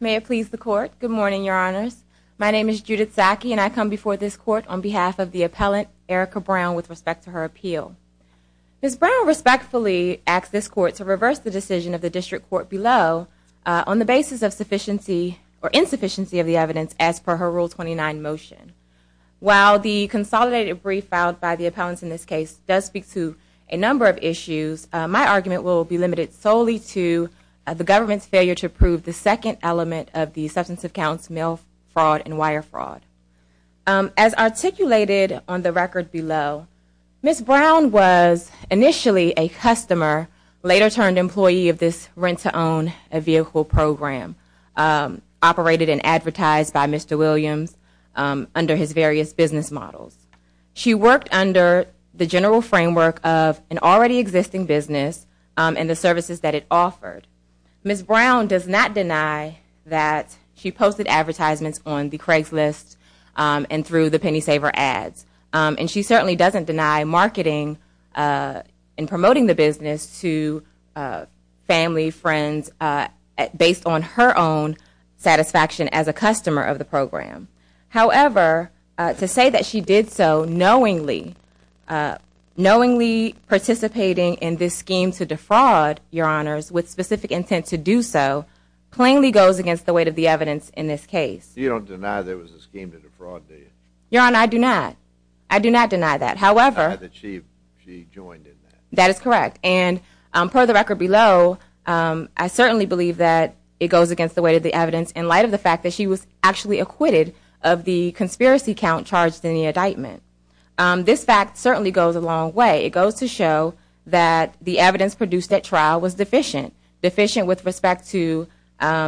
May it please the court. Good morning, your honors. My name is Judith Saki and I come before this court on behalf of the appellant Erica Brown with respect to her appeal. Ms. Brown respectfully asks this court to reverse the decision of the district court below on the basis of sufficiency or insufficiency of the evidence as per her Rule 29 motion. While the consolidated brief filed by the appellant in this case does speak to a number of issues, my argument will be limited solely to the government's failure to prove the second element of the substantive counts mail fraud and on the record below. Ms. Brown was initially a customer, later turned employee of this Rent to Own a Vehicle program operated and advertised by Mr. Williams under his various business models. She worked under the general framework of an already existing business and the services that it offered. Ms. Brown does not deny that she posted advertisements on the Craigslist and through the Penny Saver ads and she certainly doesn't deny marketing and promoting the business to family, friends, based on her own satisfaction as a customer of the program. However, to say that she did so knowingly, participating in this scheme to defraud, your honors, with specific intent to do so, plainly goes against the weight of the evidence in this case. You don't deny there was a scheme to defraud do you? Your Honor, I do not. I do not deny that. However, I do not deny that she joined in that. That is correct and per the record below, I certainly believe that it goes against the weight of the evidence in light of the fact that she was actually acquitted of the conspiracy count charged in the indictment. This fact certainly goes a long way. It goes to show that the evidence produced at trial was deficient. Deficient with respect to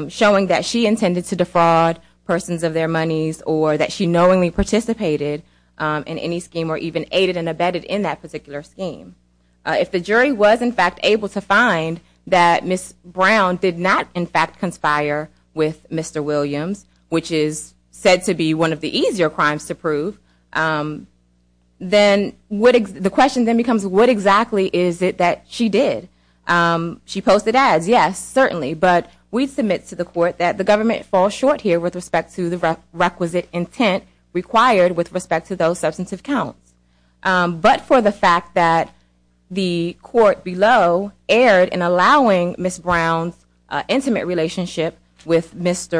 showing that she intended to defraud persons of their monies or that she knowingly participated in any scheme or even aided and abetted in that particular scheme. If the jury was in fact able to find that Ms. Brown did not in fact conspire with Mr. Williams, which is said to be one of the easier crimes to prove, then the question then becomes what exactly is it that she did? She posted ads, yes, certainly, but we submit to the court that the government falls short here with respect to the requisite intent required with respect to those of Mr.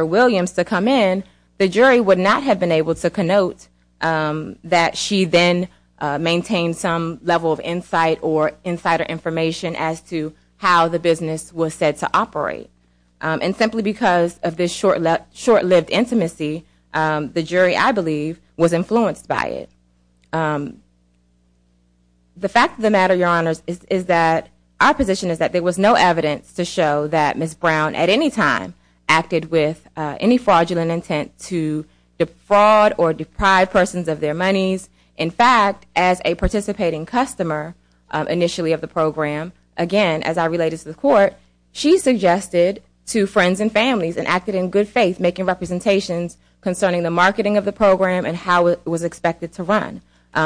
Williams to come in, the jury would not have been able to connote that she then maintained some level of insight or insider information as to how the business was said to operate. And simply because of this short-lived intimacy, the jury, I believe, was influenced by it. The fact of the matter, Your Honors, is that our position is that there was no evidence to show that Ms. Brown at any time acted with any fraudulent intent to defraud or deprive persons of their monies. In fact, as a participating customer initially of the program, again, as I related to the court, she suggested to friends and families and acted in good faith making representations concerning the marketing of the program and how it was expected to run.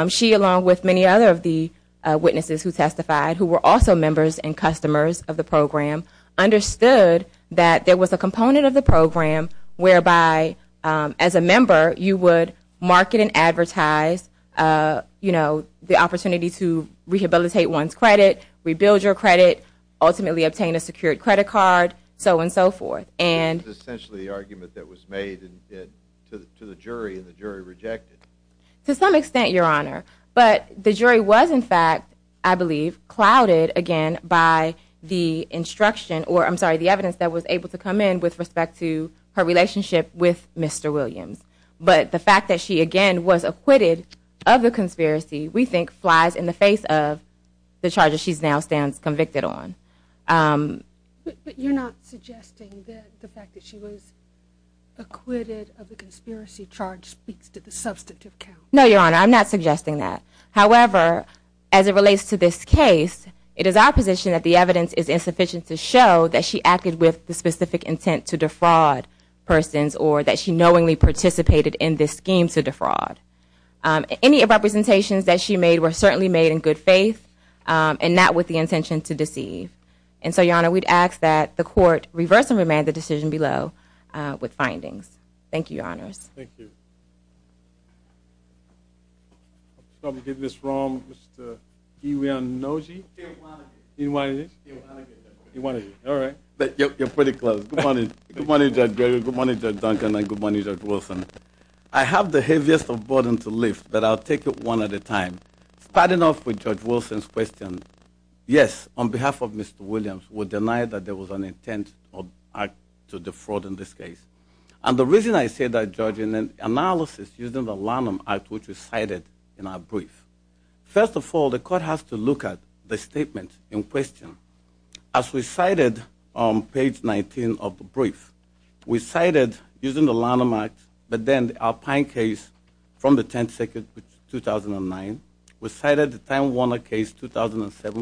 She, along with many other of the witnesses who testified, who were also members and customers of the program, understood that there was a component of the program whereby as a member, you would market and advertise, you know, the opportunity to rehabilitate one's credit, rebuild your credit, ultimately obtain a secured credit card, so on and so forth. This is essentially the argument that was made to the jury and the jury rejected. To some extent, Your Honor, but the jury was, in fact, I believe, clouded, again, by the instruction or, I'm sorry, the evidence that was able to come in with respect to her relationship with Mr. Williams. But the fact that she, again, was acquitted of the conspiracy, we think, flies in the face of the charges she now stands convicted on. But you're not suggesting that the fact that she was acquitted of the conspiracy charge speaks to the substantive count? No, Your Honor, I'm not suggesting that. However, as it relates to this case, it is our position that the evidence is insufficient to show that she acted with the specific intent to defraud persons or that she knowingly participated in this scheme to defraud. Any of the representations that she made were certainly made in good faith and not with the intention to deceive. And so, Your Honor, we'd ask that the Court reverse and remand the decision below with findings. Thank you, Your Honors. Thank you. I'll probably get this wrong. Mr. Iwanagi? Iwanagi. Iwanagi? Iwanagi, Your Honor. Iwanagi, all right. You're pretty close. Good morning. Good morning, Judge Gregory. Good morning, Judge Duncan, and good morning, Judge Wilson. I have the heaviest of burdens to lift, but I'll take it one at a time. Starting off with Judge Wilson's question, yes, on behalf of Mr. Williams, we deny that there was an intent or act to defraud in this case. And the reason I say that, Judge, in an analysis using the Lanham Act, which was cited in our brief, first of all, the Court has to look at the statement in question. As we cited on page 19 of the brief, we cited using the Lanham Act, but then the Alpine case from the 10th and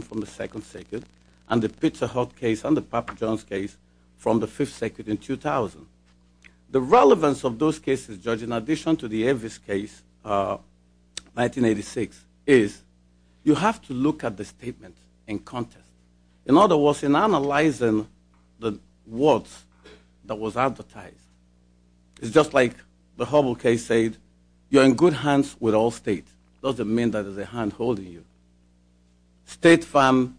7th from the 2nd Circuit, and the Pizza Hut case and the Papa John's case from the 5th Circuit in 2000. The relevance of those cases, Judge, in addition to the Avis case, 1986, is you have to look at the statement in context. In other words, in analyzing the words that was advertised, it's just like the Hubble case said, you're in good hands with all states. It doesn't mean that there's a hand holding you. State farm,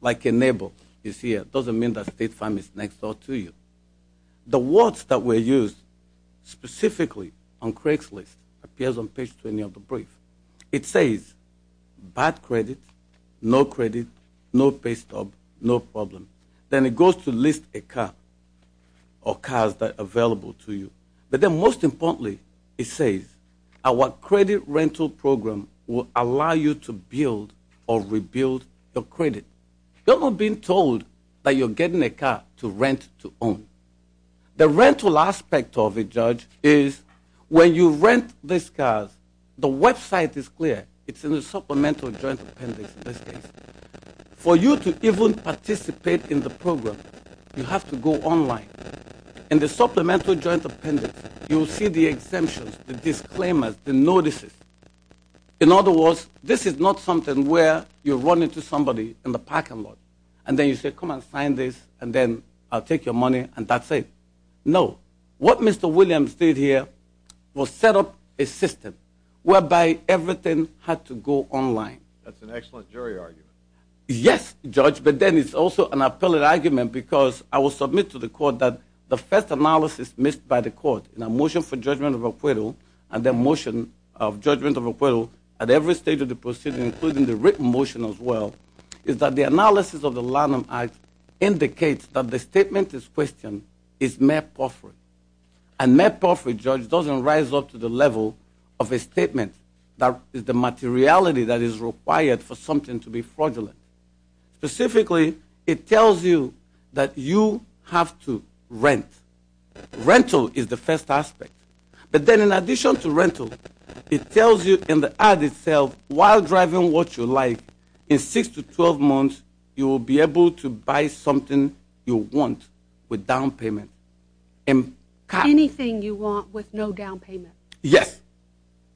like a neighbor is here, doesn't mean that state farm is next door to you. The words that were used specifically on Craig's List appears on page 20 of the brief. It says, bad credit, no credit, no pay stub, no problem. Then it goes to list a car or cars that are available to you. But then most importantly, it says, our credit rental program will allow you to build or rebuild your credit. You're not being told that you're getting a car to rent to own. The rental aspect of it, Judge, is when you rent these cars, the website is clear. It's in the supplemental joint appendix, in this case. For you to even participate in the program, you have to go online. In the supplemental joint appendix, you'll see the exemptions, the disclaimers, the notices. In other words, this is not something where you run into somebody in the parking lot and then you say, come and sign this and then I'll take your money and that's it. No. What Mr. Williams did here was set up a system whereby everything had to go online. That's an excellent jury argument. Yes, Judge, but then it's also an appellate argument because I will submit to the court that the first analysis missed by the court in a motion for judgment of acquittal and the motion of judgment of acquittal at every stage of the proceeding, including the written motion as well, is that the analysis of the Lanham Act indicates that the statement in question is mere perforate. And mere perforate, Judge, doesn't rise up to the level of a statement that is the materiality that is required for something to be fraudulent. Specifically, it tells you that you have to rent. Rental is the first aspect. But then in addition to rental, it tells you in the ad itself, while driving what you like, in 6 to 12 months, you will be able to buy something you want with down payment. Anything you want with no down payment. Yes.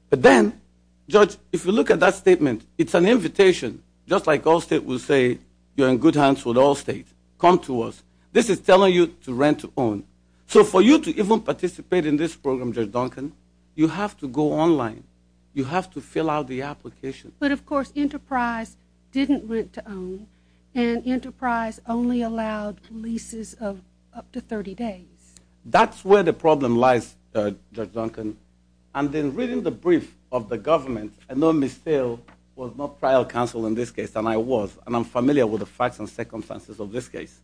But then, Judge, if you look at that statement, it's an invitation, just like Allstate will say, you're in good hands with Allstate. Come to us. This is telling you to rent to own. So for you to even participate in this program, Judge Duncan, you have to go online. You have to fill out the application. But of course, Enterprise didn't rent to own, and Enterprise only allowed leases of up to 30 days. That's where the problem lies, Judge Duncan. And then reading the brief of the government, I know Ms. Dale was not trial counsel in this case, and I was. And I'm familiar with the facts and circumstances of this case.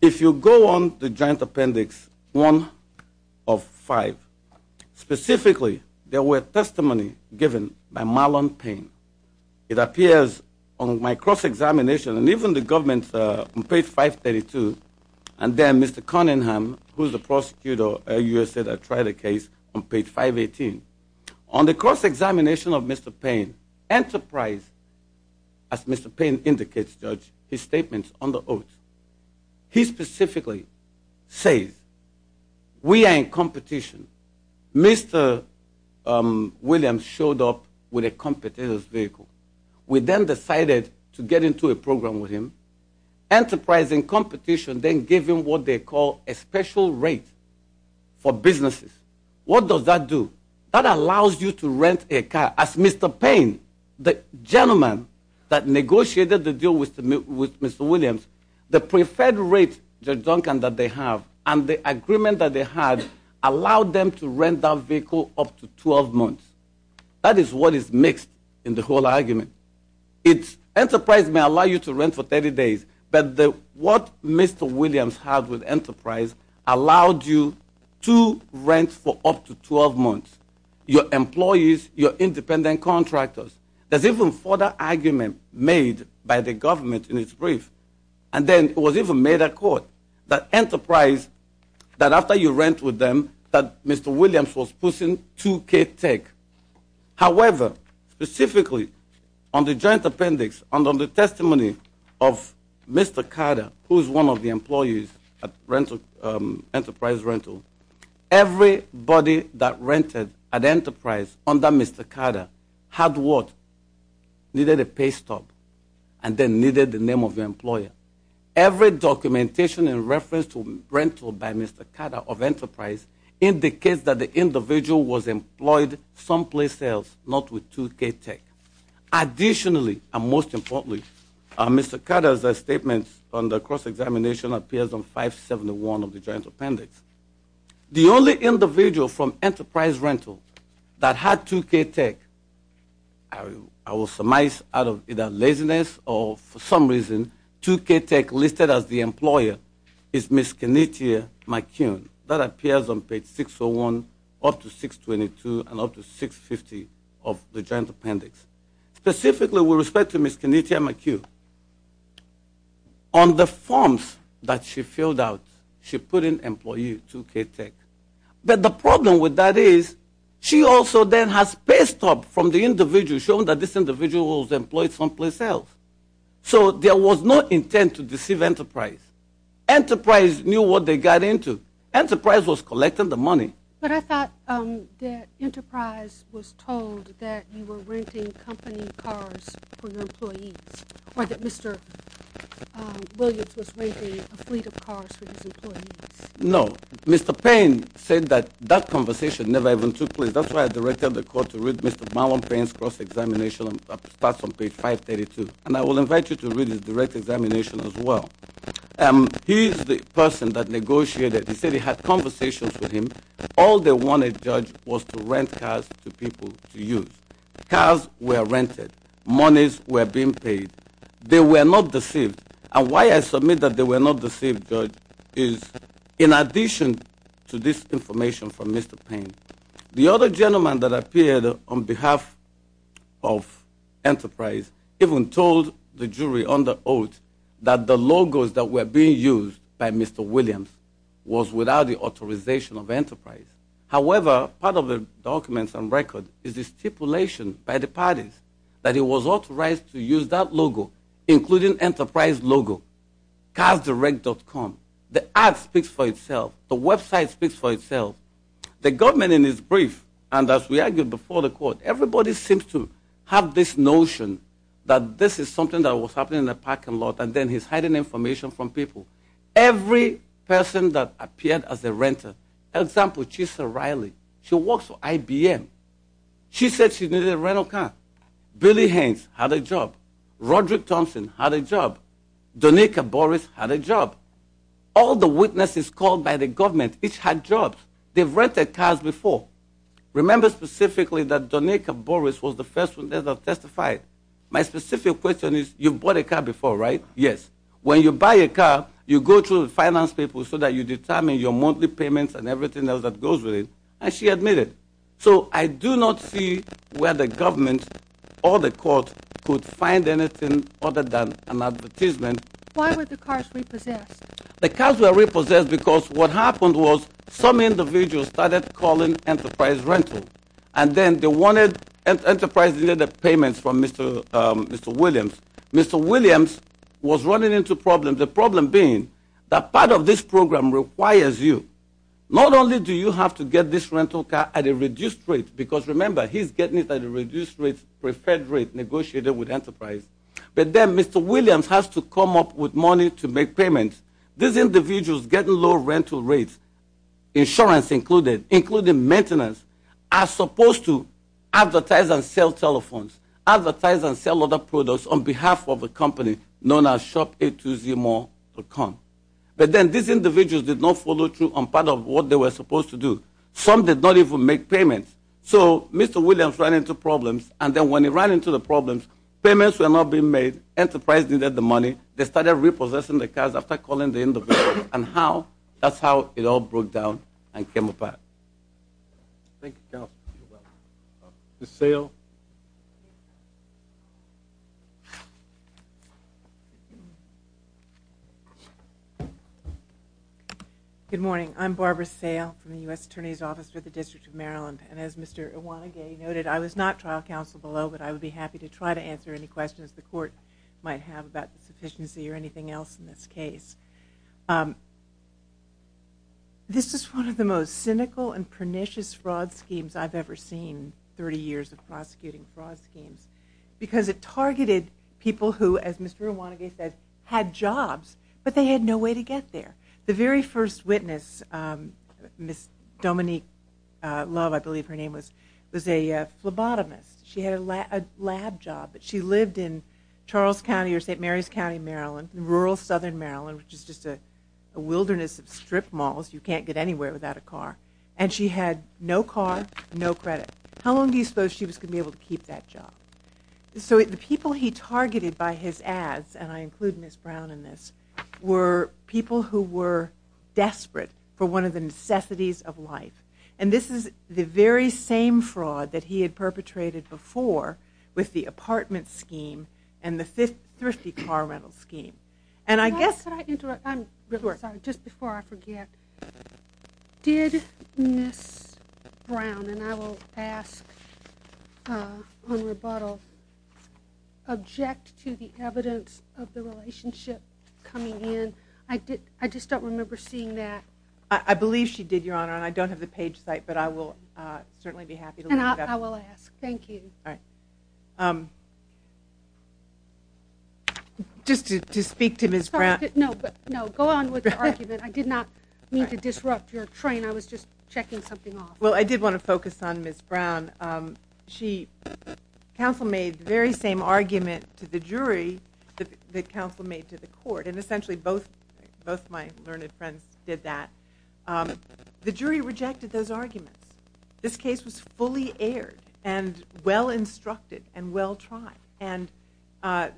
If you go on the joint appendix 1 of 5, specifically, there were testimony given by Marlon Payne. It appears on my cross-examination, and even the government, on page 532. And then Mr. Cunningham, who's the prosecutor, earlier said I tried the case on page 518. On the cross-examination of Mr. Payne, Enterprise, as Mr. Payne indicates, Judge, his statements on the oath, he specifically says, we are in competition. Mr. Williams showed up with a competitor's vehicle. We then decided to get into a program with him. Enterprise, in competition, then gave him what they call a special rate for businesses. What does that do? That allows you to rent a car. As Mr. Payne, the gentleman that negotiated the deal with Mr. Williams, the preferred rate, Judge Duncan, that they have, and the agreement that they had, allowed them to rent that vehicle up to 12 months. That is what is mixed in the whole argument. Enterprise may allow you to rent for 30 days, but what Mr. Williams had with Enterprise allowed you to rent for up to 12 months. Your employees, your independent contractors. There's even further argument made by the government in its brief. And then it was even made a court that Enterprise, that after you rent with them, that Mr. Williams was pushing 2K tech. However, specifically on the joint appendix, on the testimony of Mr. Carter, who is one of the employees at Enterprise Rental. Everybody that rented at Enterprise under Mr. Carter had what? Needed a pay stub, and then needed the name of the employer. Every documentation in reference to rental by Mr. Carter of Enterprise indicates that the individual was employed someplace else, not with 2K tech. Additionally, and most importantly, Mr. Carter's statement on the cross-examination appears on 571 of the joint appendix. The only individual from Enterprise Rental that had 2K tech, I will surmise out of either laziness or for some reason, 2K tech listed as the employer is Miss Kenetia McCune. That appears on page 601 up to 622 and up to 650 of the joint appendix. Specifically with respect to Miss Kenetia McCune, on the forms that she filled out, she put in employee 2K tech. But the problem with that is, she also then has pay stub from the individual showing that this individual was employed someplace else. So there was no intent to deceive Enterprise. Enterprise knew what they got into. Enterprise was collecting the money. But I thought that Enterprise was told that you were renting company cars for your employees, or that Mr. Williams was renting a fleet of cars for his employees. No, Mr. Payne said that that conversation never even took place. That's why I directed the court to read Mr. Marlon Payne's cross-examination and that's on page 532. And I will invite you to read his direct examination as well. He's the person that negotiated. He said he had conversations with him. All they wanted, judge, was to rent cars to people to use. Cars were rented. Monies were being paid. They were not deceived. And why I submit that they were not deceived, judge, is in addition to this information from Mr. Payne. The other gentleman that appeared on behalf of Enterprise, even told the jury on the oath that the logos that were being used by Mr. Williams was without the authorization of Enterprise. However, part of the documents and record is the stipulation by the parties that it was authorized to use that logo, including Enterprise logo. CarsDirect.com. The ad speaks for itself. The website speaks for itself. The government in its brief, and as we argued before the court, everybody seems to have this notion that this is something that was happening in a parking lot and then he's hiding information from people. Every person that appeared as a renter, example, Chisa Riley. She works for IBM. She said she needed a rental car. Billy Haynes had a job. Roderick Thompson had a job. Donika Boris had a job. All the witnesses called by the government each had jobs. They've rented cars before. Remember specifically that Donika Boris was the first one that testified. My specific question is, you've bought a car before, right? Yes. When you buy a car, you go through the finance people so that you determine your monthly payments and everything else that goes with it. And she admitted. So I do not see where the government or the court could find anything other than an advertisement. Why were the cars repossessed? The cars were repossessed because what happened was, some individuals started calling Enterprise Rental. And then they wanted Enterprise Rental payments from Mr. Williams. Mr. Williams was running into problems, the problem being that part of this program requires you. Not only do you have to get this rental car at a reduced rate, because remember, he's getting it at a reduced rate, preferred rate negotiated with Enterprise. But then Mr. Williams has to come up with money to make payments. These individuals getting low rental rates, insurance included, including maintenance, are supposed to advertise and sell telephones. Advertise and sell other products on behalf of a company known as shop820more.com. But then these individuals did not follow through on part of what they were supposed to do. Some did not even make payments. So Mr. Williams ran into problems. And then when he ran into the problems, payments were not being made. Enterprise needed the money. They started repossessing the cars after calling the individuals. And how? That's how it all broke down and came apart. Thank you, counsel. Ms. Sale. Good morning. I'm Barbara Sale from the U.S. Attorney's Office for the District of Maryland. And as Mr. Iwanage noted, I was not trial counsel below, but I would be happy to try to answer any questions the court might have about the sufficiency or anything else in this case. This is one of the most cynical and pernicious fraud schemes I've ever seen, 30 years of prosecuting fraud schemes, because it targeted people who, as Mr. Iwanage said, had jobs, but they had no way to get there. The very first witness, Ms. Dominique Love, I believe her name was, was a phlebotomist. She had a lab job, but she lived in Charles County or St. Mary's County, Maryland, rural southern Maryland, which is just a wilderness of strip malls. You can't get anywhere without a car. And she had no car, no credit. How long do you suppose she was going to be able to keep that job? So the people he targeted by his ads, and I include Ms. Brown in this, were people who were desperate for one of the necessities of life. And this is the very same fraud that he had perpetrated before with the apartment scheme and the thrifty car rental scheme. And I guess... Could I interrupt? I'm really sorry. Just before I forget. Did Ms. Brown, and I will ask on rebuttal, object to the evidence of the relationship coming in? I just don't remember seeing that. I believe she did, Your Honor, and I don't have the page site, but I will certainly be happy to look it up. And I will ask. Thank you. All right. Just to speak to Ms. Brown... No, but, no, go on with the argument. I did not mean to disrupt your train. I was just checking something off. Well, I did want to focus on Ms. Brown. And essentially, both my learned friends did that. The jury rejected those arguments. This case was fully aired and well-instructed and well-tried. And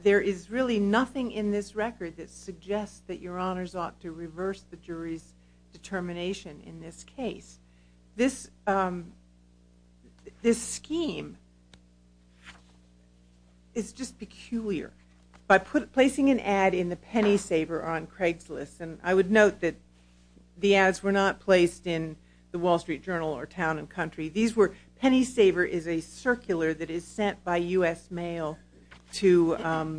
there is really nothing in this record that suggests that Your Honors ought to reverse the jury's determination in this case. This scheme is just peculiar. By placing an ad in the Pennysaver on Craigslist, and I would note that the ads were not placed in the Wall Street Journal or Town & Country. These were... Pennysaver is a circular that is sent by U.S. mail to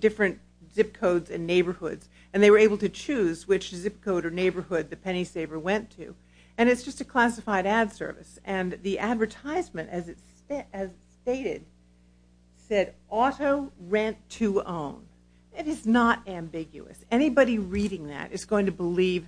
different zip codes and neighborhoods. And they were able to choose which zip code or neighborhood the Pennysaver went to. And it's just a classified ad service. And the advertisement, as it's stated, said auto rent-to-own. It is not ambiguous. Anybody reading that is going to believe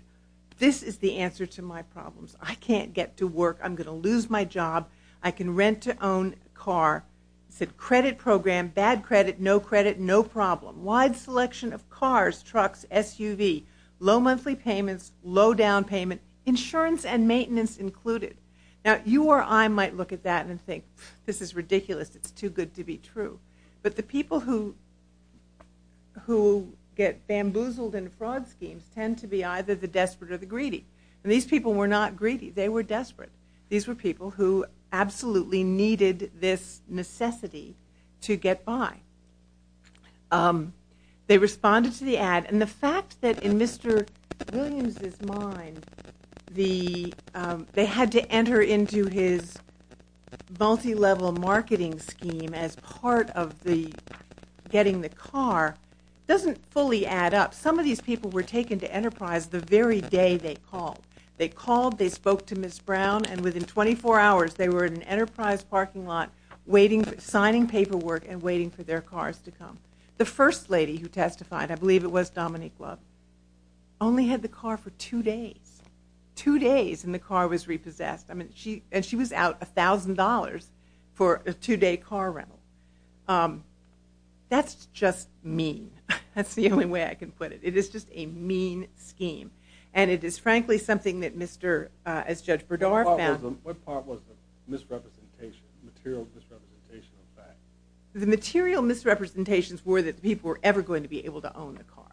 this is the answer to my problems. I can't get to work. I'm going to lose my job. I can rent-to-own a car. It said credit program, bad credit, no credit, no problem. Wide selection of cars, trucks, SUV. Low monthly payments, low down payment, insurance and maintenance included. Now you or I might look at that and think, this is ridiculous. It's too good to be true. But the people who get bamboozled in fraud schemes tend to be either the desperate or the greedy. And these people were not greedy. They were desperate. These were people who absolutely needed this necessity to get by. They responded to the ad. And the fact that in Mr. Williams' mind, they had to enter into his multi-level marketing scheme as part of the getting the car doesn't fully add up. Some of these people were taken to Enterprise the very day they called. They called. They spoke to Ms. Brown. And within 24 hours, they were in an Enterprise parking lot signing paperwork and waiting for their cars to come. The first lady who testified, I believe it was Dominique Love, only had the car for two days. Two days and the car was repossessed. I mean, and she was out $1,000 for a two-day car rental. That's just mean. That's the only way I can put it. It is just a mean scheme. And it is frankly something that Mr., as Judge Berdar found. What part was the misrepresentation, material misrepresentation of facts? The material misrepresentations were that people were ever going to be able to own the cars.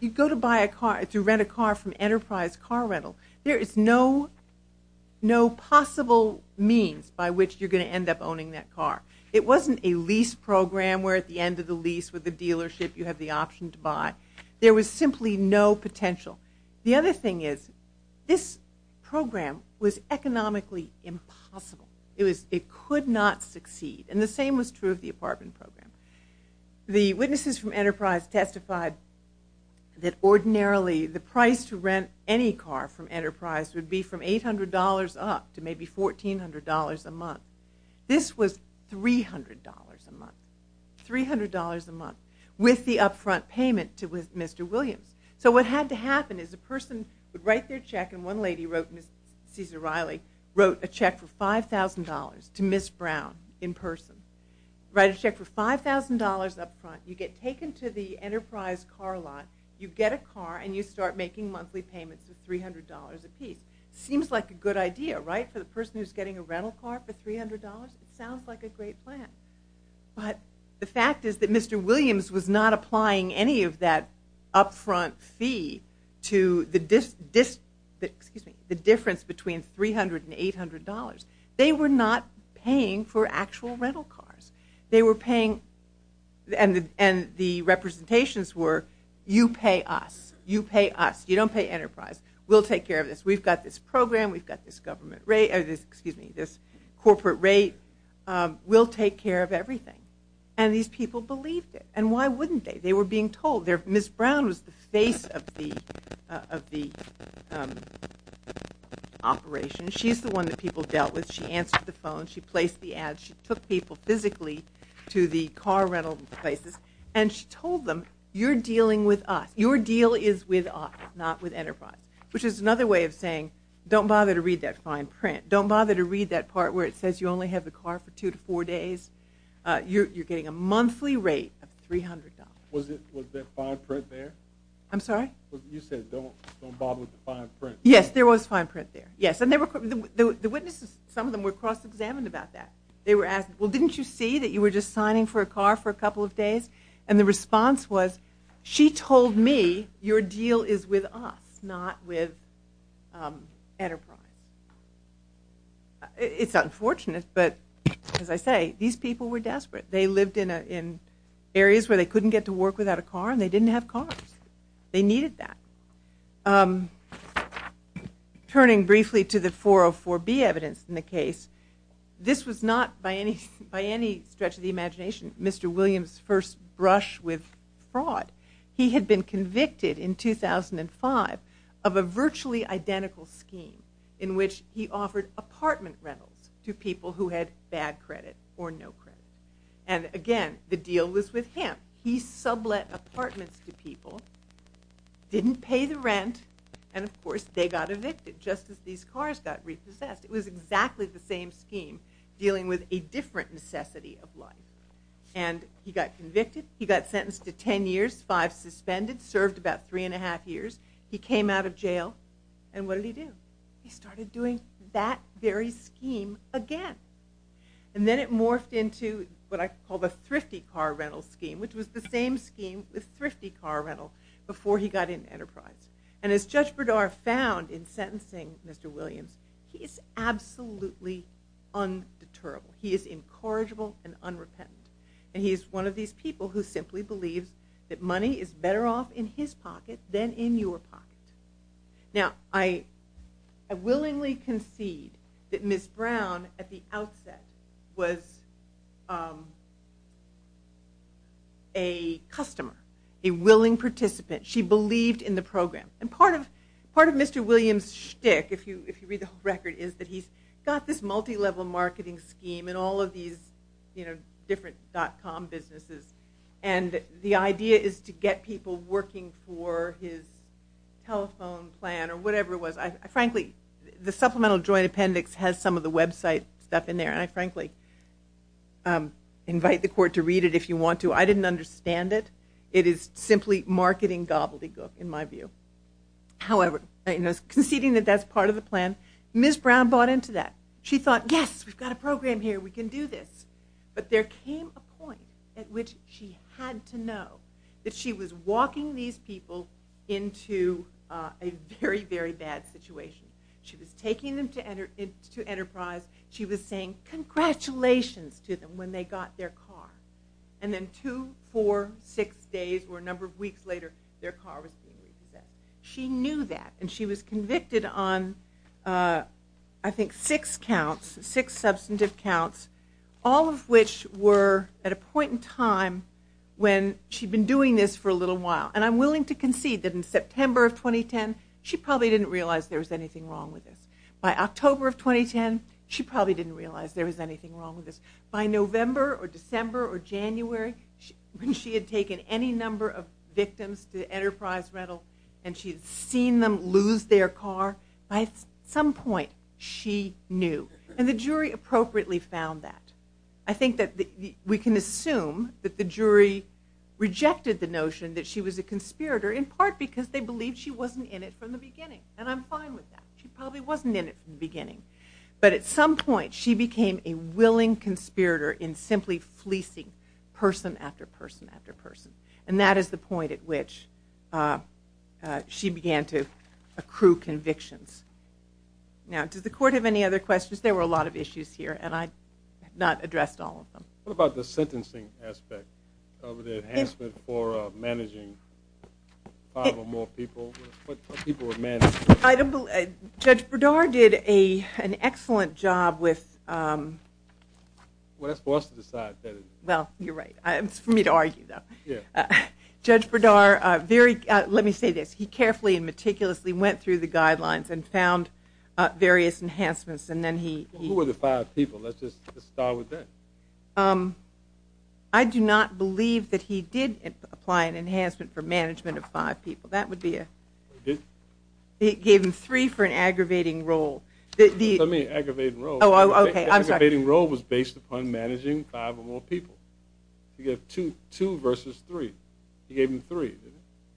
You go to buy a car, to rent a car from Enterprise Car Rental, there is no possible means by which you're going to end up owning that car. It wasn't a lease program where at the end of the lease with the dealership, you have the option to buy. There was simply no potential. The other thing is, this program was economically impossible. It was, it could not succeed. And the same was true of the apartment program. The witnesses from Enterprise testified that ordinarily, the price to rent any car from Enterprise would be from $800 up to maybe $1,400 a month. This was $300 a month. $300 a month with the upfront payment to Mr. Williams. So what had to happen is a person would write their check, and one lady wrote, Ms. Cesar Riley, wrote a check for $5,000 to Ms. Brown in person. Write a check for $5,000 upfront, you get taken to the Enterprise car lot, you get a car, and you start making monthly payments of $300 a piece. Seems like a good idea, right, for the person who's getting a rental car for $300? Sounds like a great plan. But the fact is that Mr. Williams was not applying any of that upfront fee to the difference between $300 and $800. They were not paying for actual rental cars. They were paying, and the representations were, you pay us, you pay us, you don't pay Enterprise. We'll take care of this. We've got this program, we've got this government rate, or this, excuse me, this corporate rate, we'll take care of everything. And these people believed it. And why wouldn't they? They were being told. Ms. Brown was the face of the operation. She's the one that people dealt with. She answered the phone. She placed the ads. She took people physically to the car rental places, and she told them, you're dealing with us. Your deal is with us, not with Enterprise, which is another way of saying, don't bother to read that fine print. Don't bother to read that part where it says you only have the car for two to four days. You're getting a monthly rate of $300. Was that fine print there? I'm sorry? You said, don't bother with the fine print. Yes, there was fine print there. Yes, and the witnesses, some of them were cross-examined about that. They were asked, well, didn't you see that you were just signing for a car for a couple of days? And the response was, she told me your deal is with us, not with Enterprise. It's unfortunate, but as I say, these people were desperate. They lived in areas where they couldn't get to work without a car, and they didn't have cars. They needed that. Turning briefly to the 404B evidence in the case, this was not by any stretch of the imagination Mr. Williams' first brush with fraud. He had been convicted in 2005 of a virtually identical scheme in which he offered apartment rentals to people who had bad credit or no credit. And, again, the deal was with him. He sublet apartments to people, didn't pay the rent, and, of course, they got evicted just as these cars got repossessed. It was exactly the same scheme dealing with a different necessity of life. And he got convicted. He got sentenced to 10 years, five suspended, served about three and a half years. He came out of jail, and what did he do? He started doing that very scheme again. And then it morphed into what I call the thrifty car rental scheme, which was the same scheme with thrifty car rental before he got into Enterprise. And as Judge Berdar found in sentencing Mr. Williams, he is absolutely undeterrable. He is incorrigible and unrepentant. And he is one of these people who simply believes that money is better off in his pocket than in your pocket. Now, I willingly concede that Ms. Brown at the outset was a customer, a willing participant. She believed in the program. And part of Mr. Williams' shtick, if you read the whole record, is that he's got this multilevel marketing scheme in all of these different dot-com businesses. And the idea is to get people working for his telephone plan or whatever it was. Frankly, the supplemental joint appendix has some of the website stuff in there, and I frankly invite the court to read it if you want to. I didn't understand it. It is simply marketing gobbledygook in my view. However, conceding that that's part of the plan, Ms. Brown bought into that. She thought, yes, we've got a program here. We can do this. But there came a point at which she had to know that she was walking these people into a very, very bad situation. She was taking them to Enterprise. She was saying congratulations to them when they got their car. And then two, four, six days or a number of weeks later, their car was being repossessed. She knew that, and she was convicted on, I think, six counts, six substantive counts, all of which were at a point in time when she'd been doing this for a little while. And I'm willing to concede that in September of 2010, she probably didn't realize there was anything wrong with this. By October of 2010, she probably didn't realize there was anything wrong with this. By November or December or January, when she had taken any number of victims to Enterprise Rental and she had seen them lose their car, by some point she knew. And the jury appropriately found that. I think that we can assume that the jury rejected the notion that she was a conspirator, in part because they believed she wasn't in it from the beginning. And I'm fine with that. She probably wasn't in it from the beginning. But at some point, she became a willing conspirator in simply fleecing person after person after person. And that is the point at which she began to accrue convictions. Now, does the court have any other questions? There were a lot of issues here, and I have not addressed all of them. What about the sentencing aspect of the enhancement for managing five or more people? What people were managed? Judge Berdar did an excellent job with – Well, that's for us to decide. Well, you're right. It's for me to argue, though. Judge Berdar very – let me say this. He carefully and meticulously went through the guidelines and found various enhancements, and then he – Who were the five people? Let's just start with that. I do not believe that he did apply an enhancement for management of five people. That would be a – He gave him three for an aggravating role. What do you mean, aggravating role? Oh, okay. I'm sorry. Aggravating role was based upon managing five or more people. You have two versus three. He gave him three,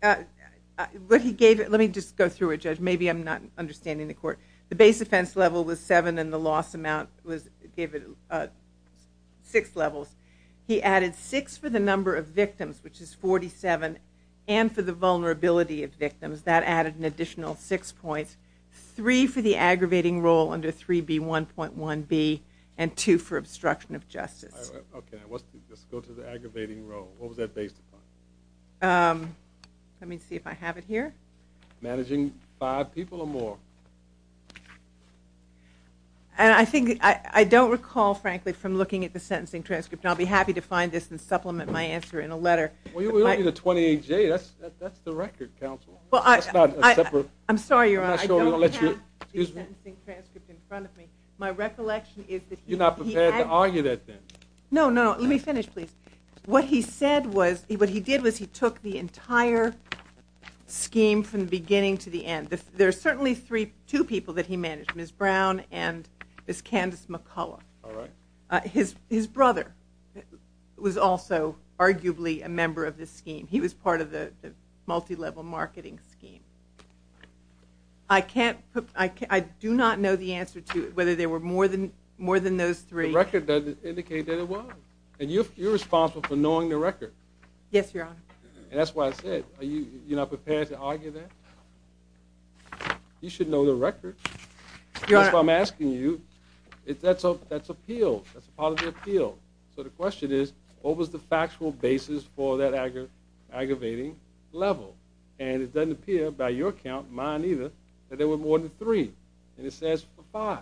didn't he? What he gave – let me just go through it, Judge. Maybe I'm not understanding the court. The base offense level was seven, and the loss amount was – gave it six levels. He added six for the number of victims, which is 47, and for the vulnerability of victims. That added an additional six points. Three for the aggravating role under 3B1.1b, and two for obstruction of justice. Okay. I wasn't – let's go to the aggravating role. What was that based upon? Let me see if I have it here. Managing five people or more. And I think – I don't recall, frankly, from looking at the sentencing transcript, and I'll be happy to find this and supplement my answer in a letter. Well, you don't need a 28J. That's the record, counsel. Well, I – That's not a separate – I'm sorry, Your Honor. I'm not sure I'm going to let you – excuse me. I don't have the sentencing transcript in front of me. My recollection is that he – You're not prepared to argue that, then. No, no, no. Let me finish, please. What he said was – what he did was he took the entire scheme from the beginning to the end. There are certainly two people that he managed, Ms. Brown and Ms. Candace McCullough. All right. His brother was also arguably a member of this scheme. He was part of the multilevel marketing scheme. I can't – I do not know the answer to whether there were more than those three. The record doesn't indicate that it was. And you're responsible for knowing the record. Yes, Your Honor. And that's why I said, are you not prepared to argue that? You should know the record. That's why I'm asking you. That's appeal. That's a part of the appeal. So the question is, what was the factual basis for that aggravating level? And it doesn't appear by your count, mine either, that there were more than three. And it says five.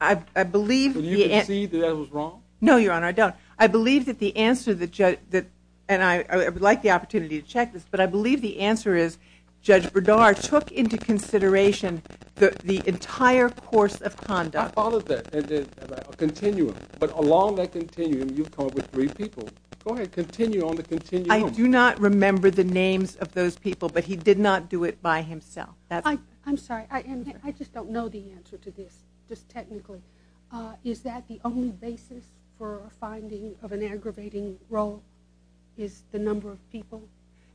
I believe – Can you concede that that was wrong? No, Your Honor, I don't. I believe that the answer that – and I would like the opportunity to check this, but I believe the answer is Judge Bernard took into consideration the entire course of conduct. I followed that, a continuum. But along that continuum, you've come up with three people. Go ahead. Continue on the continuum. I do not remember the names of those people, but he did not do it by himself. I'm sorry. I just don't know the answer to this, just technically. Is that the only basis for a finding of an aggravating role is the number of people?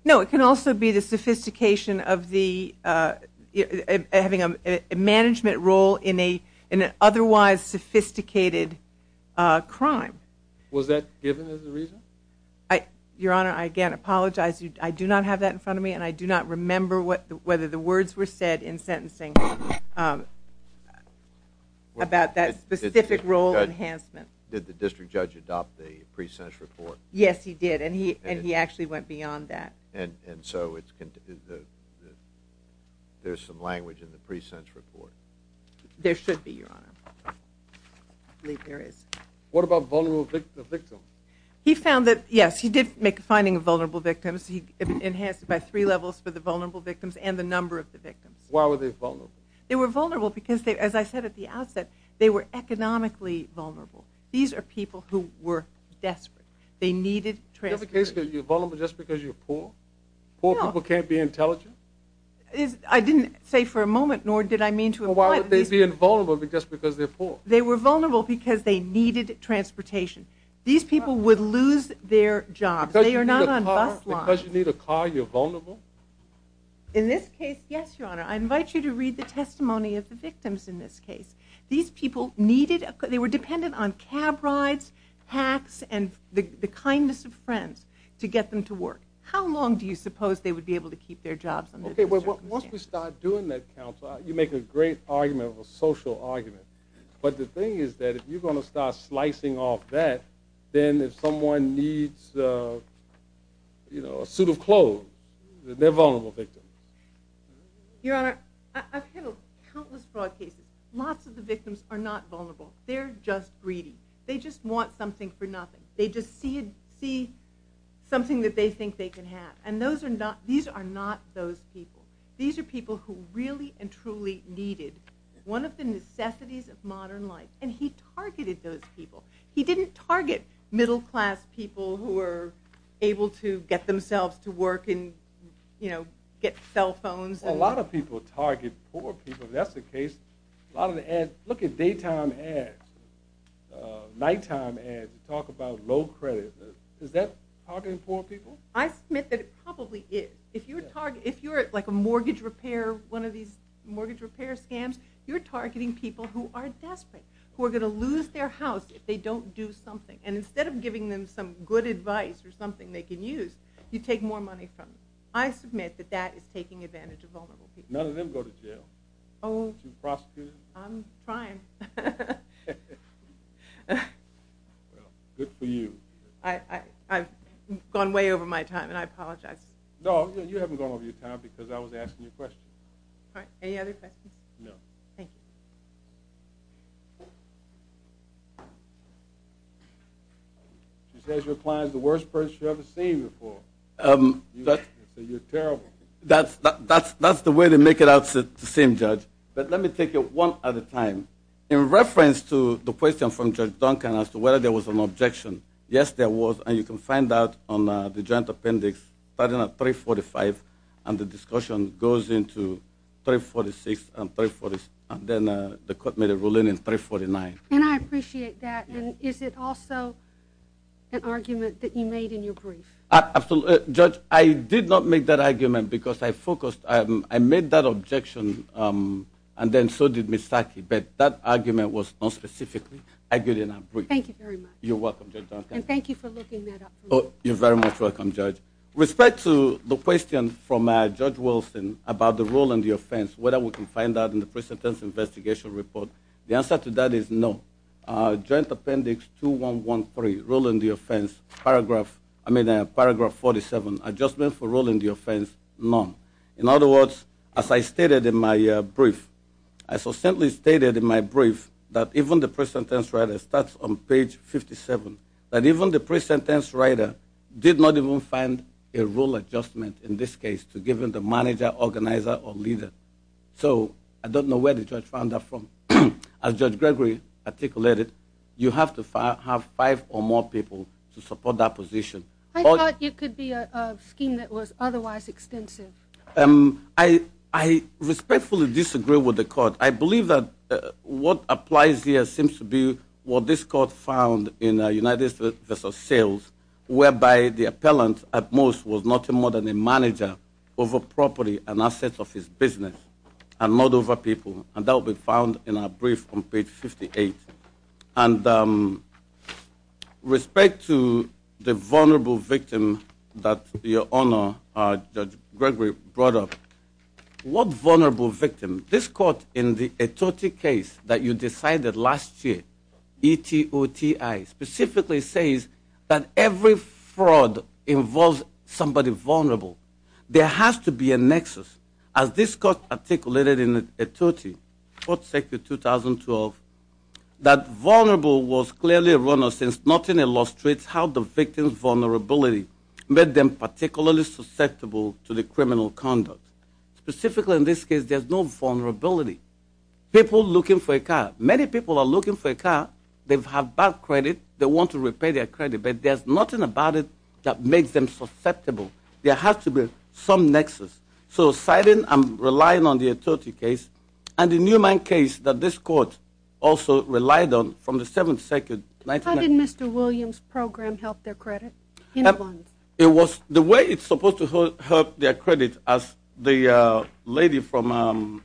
No, it can also be the sophistication of having a management role in an otherwise sophisticated crime. Was that given as the reason? Your Honor, I again apologize. I do not have that in front of me, and I do not remember whether the words were said in sentencing about that specific role enhancement. Did the district judge adopt the pre-sentence report? Yes, he did, and he actually went beyond that. And so there's some language in the pre-sentence report? There should be, Your Honor. I believe there is. What about vulnerable victims? He found that – yes, he did make a finding of vulnerable victims. He enhanced it by three levels for the vulnerable victims and the number of the victims. Why were they vulnerable? They were vulnerable because, as I said at the outset, they were economically vulnerable. These are people who were desperate. They needed transportation. Is that the case because you're vulnerable just because you're poor? Poor people can't be intelligent? I didn't say for a moment, nor did I mean to avoid – Well, why would they be invulnerable just because they're poor? They were vulnerable because they needed transportation. These people would lose their jobs. They are not on bus lines. Because you need a car, you're vulnerable? In this case, yes, Your Honor. I invite you to read the testimony of the victims in this case. These people needed – they were dependent on cab rides, hacks, and the kindness of friends to get them to work. How long do you suppose they would be able to keep their jobs? Once we start doing that, counsel, you make a great argument, a social argument. But the thing is that if you're going to start slicing off that, then if someone needs a suit of clothes, they're a vulnerable victim. Your Honor, I've handled countless fraud cases. Lots of the victims are not vulnerable. They're just greedy. They just want something for nothing. They just see something that they think they can have. And these are not those people. These are people who really and truly needed – one of the necessities of modern life. And he targeted those people. He didn't target middle-class people who were able to get themselves to work and, you know, get cell phones. Well, a lot of people target poor people. If that's the case, a lot of the ads – look at daytime ads, nighttime ads that talk about low credit. Is that targeting poor people? I submit that it probably is. If you're like a mortgage repair, one of these mortgage repair scams, you're targeting people who are desperate, who are going to lose their house if they don't do something. And instead of giving them some good advice or something they can use, you take more money from them. I submit that that is taking advantage of vulnerable people. None of them go to jail. Oh. You prosecute them. I'm trying. I've gone way over my time, and I apologize. No, you haven't gone over your time because I was asking you questions. All right. Any other questions? No. Thank you. She says you're applying as the worst person she's ever seen before. You're terrible. That's the way they make it out to seem, Judge. But let me take it one at a time. In reference to the question from Judge Duncan as to whether there was an objection, yes, there was. And you can find that on the joint appendix starting at 345, and the discussion goes into 346 and 346, and then the court made a ruling in 349. And I appreciate that. And is it also an argument that you made in your brief? Absolutely. Judge, I did not make that argument because I focused. I made that objection, and then so did Misaki. But that argument was not specifically argued in our brief. Thank you very much. You're welcome, Judge Duncan. And thank you for looking that up for me. You're very much welcome, Judge. With respect to the question from Judge Wilson about the rule and the offense, whether we can find that in the present tense investigation report, the answer to that is no. Joint appendix 2113, rule and the offense, paragraph 47, adjustment for rule and the offense, none. In other words, as I stated in my brief, that even the present tense writer starts on page 57, that even the present tense writer did not even find a rule adjustment, in this case, to given the manager, organizer, or leader. So I don't know where the judge found that from. As Judge Gregory articulated, you have to have five or more people to support that position. I thought it could be a scheme that was otherwise extensive. I respectfully disagree with the court. I believe that what applies here seems to be what this court found in United Vs. Sales, whereby the appellant at most was nothing more than a manager over property and assets of his business and not over people, and that will be found in our brief on page 58. And with respect to the vulnerable victim that your Honor, Judge Gregory, brought up, what vulnerable victim? This court in the Etote case that you decided last year, E-T-O-T-I, specifically says that every fraud involves somebody vulnerable. There has to be a nexus. As this court articulated in Etote, court statute 2012, that vulnerable was clearly a runner since nothing illustrates how the victim's vulnerability made them particularly susceptible to the criminal conduct. Specifically in this case, there's no vulnerability. People looking for a car. Many people are looking for a car. They have bad credit. They want to repay their credit, but there's nothing about it that makes them susceptible. There has to be some nexus. So citing and relying on the Etote case and the Newman case that this court also relied on from the 7th Circuit. How did Mr. Williams' program help their credit? The way it's supposed to help their credit, as the lady from,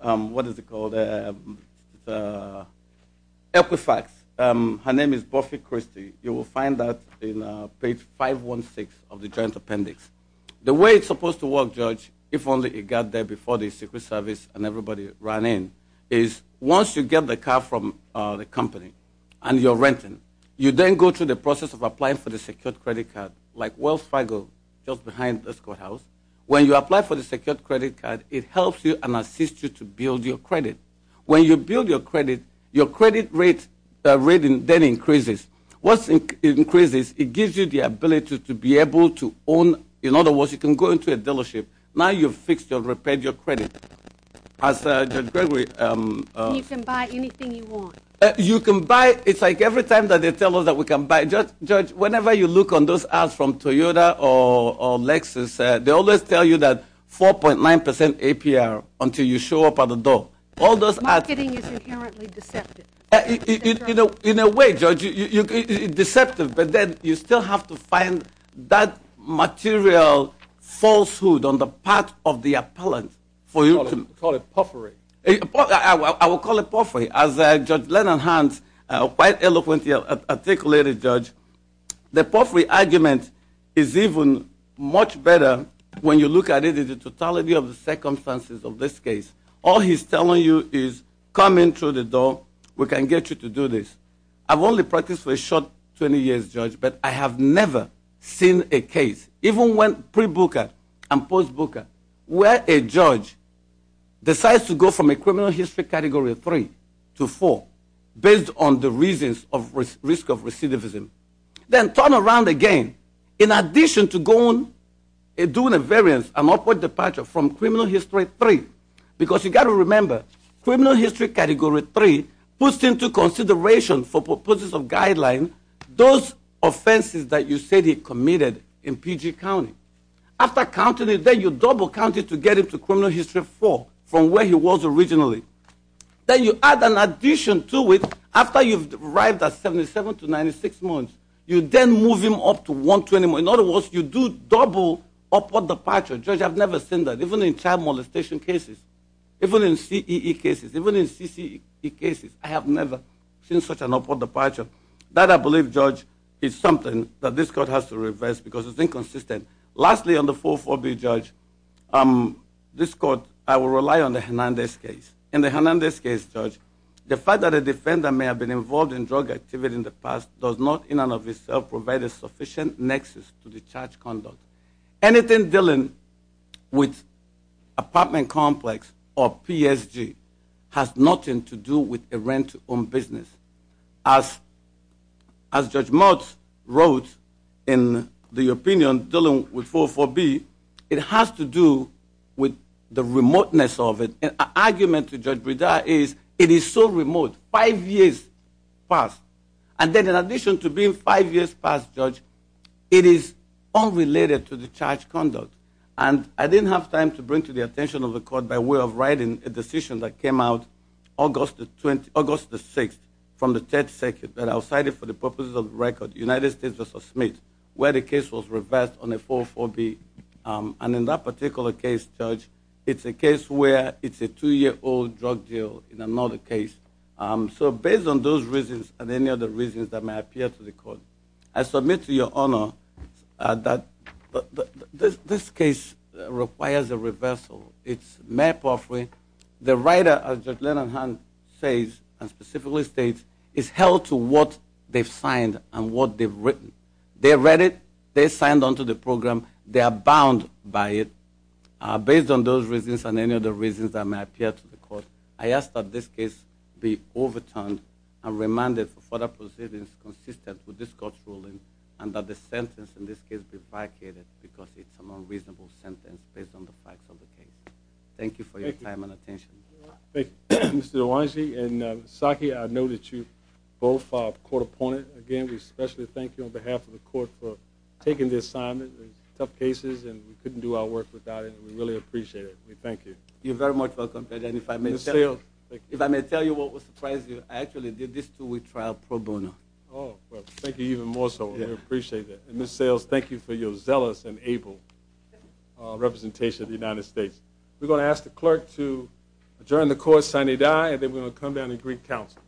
what is it called, Equifax. Her name is Buffy Christie. You will find that in page 516 of the Joint Appendix. The way it's supposed to work, Judge, if only it got there before the Secret Service and everybody ran in, is once you get the car from the company and you're renting, you then go through the process of applying for the secured credit card, like Wells Fargo, just behind this courthouse. When you apply for the secured credit card, it helps you and assists you to build your credit. When you build your credit, your credit rate then increases. Once it increases, it gives you the ability to be able to own. In other words, you can go into a dealership. Now you've fixed or repaired your credit. As Judge Gregory said. You can buy anything you want. You can buy. It's like every time that they tell us that we can buy. Judge, whenever you look on those ads from Toyota or Lexus, they always tell you that 4.9% APR until you show up at the door. All those ads. Marketing is inherently deceptive. In a way, Judge, it's deceptive, but then you still have to find that material falsehood on the part of the appellant for you to Call it potpourri. I will call it potpourri. As Judge Leonard Hans quite eloquently articulated, Judge, the potpourri argument is even much better when you look at it in the totality of the circumstances of this case. All he's telling you is come in through the door. We can get you to do this. I've only practiced for a short 20 years, Judge, but I have never seen a case, even when pre-booker and post-booker, where a judge decides to go from a criminal history Category 3 to 4 based on the reasons of risk of recidivism. Then turn around again. In addition to going and doing a variance, an upward departure from criminal history 3, because you've got to remember criminal history Category 3 puts into consideration for purposes of guidelines those offenses that you said he committed in PG County. After counting it, then you double count it to get him to criminal history 4 from where he was originally. Then you add an addition to it after you've arrived at 77 to 96 months. You then move him up to 120. In other words, you do double upward departure. Judge, I've never seen that. Even in child molestation cases, even in CEE cases, even in CCE cases, I have never seen such an upward departure. That, I believe, Judge, is something that this Court has to reverse because it's inconsistent. Lastly, on the 4-4-B, Judge, this Court, I will rely on the Hernandez case. In the Hernandez case, Judge, the fact that a defender may have been involved in drug activity in the past does not in and of itself provide a sufficient nexus to the charge conduct. Anything dealing with apartment complex or PSG has nothing to do with a rent-owned business. As Judge Motz wrote in the opinion dealing with 4-4-B, it has to do with the remoteness of it. An argument to Judge Brida is it is so remote, five years past. And then in addition to being five years past, Judge, it is unrelated to the charge conduct. And I didn't have time to bring to the attention of the Court by way of writing a decision that came out August the 6th from the 10th circuit that I cited for the purposes of the record, United States v. Smith, where the case was reversed on a 4-4-B. And in that particular case, Judge, it's a case where it's a two-year-old drug deal in another case. So based on those reasons and any other reasons that may appear to the Court, I submit to your honor that this case requires a reversal. It's Mayor Palfrey, the writer, as Judge Lennonhan says and specifically states, is held to what they've signed and what they've written. They read it, they signed onto the program, they are bound by it. Based on those reasons and any other reasons that may appear to the Court, I ask that this case be overturned and remanded for further proceedings consistent with this Court's ruling and that the sentence in this case be vacated because it's an unreasonable sentence based on the facts of the case. Thank you for your time and attention. Thank you. Mr. DeWange and Saki, I know that you're both Court opponents. Again, we especially thank you on behalf of the Court for taking this assignment. It's tough cases and we couldn't do our work without it, and we really appreciate it. We thank you. You're very much welcome. If I may tell you what would surprise you, I actually did this two-week trial pro bono. Thank you even more so. We appreciate that. Ms. Sales, thank you for your zealous and able representation of the United States. We're going to ask the Clerk to adjourn the Court sine die and then we're going to come down to Greek Council. Thank you.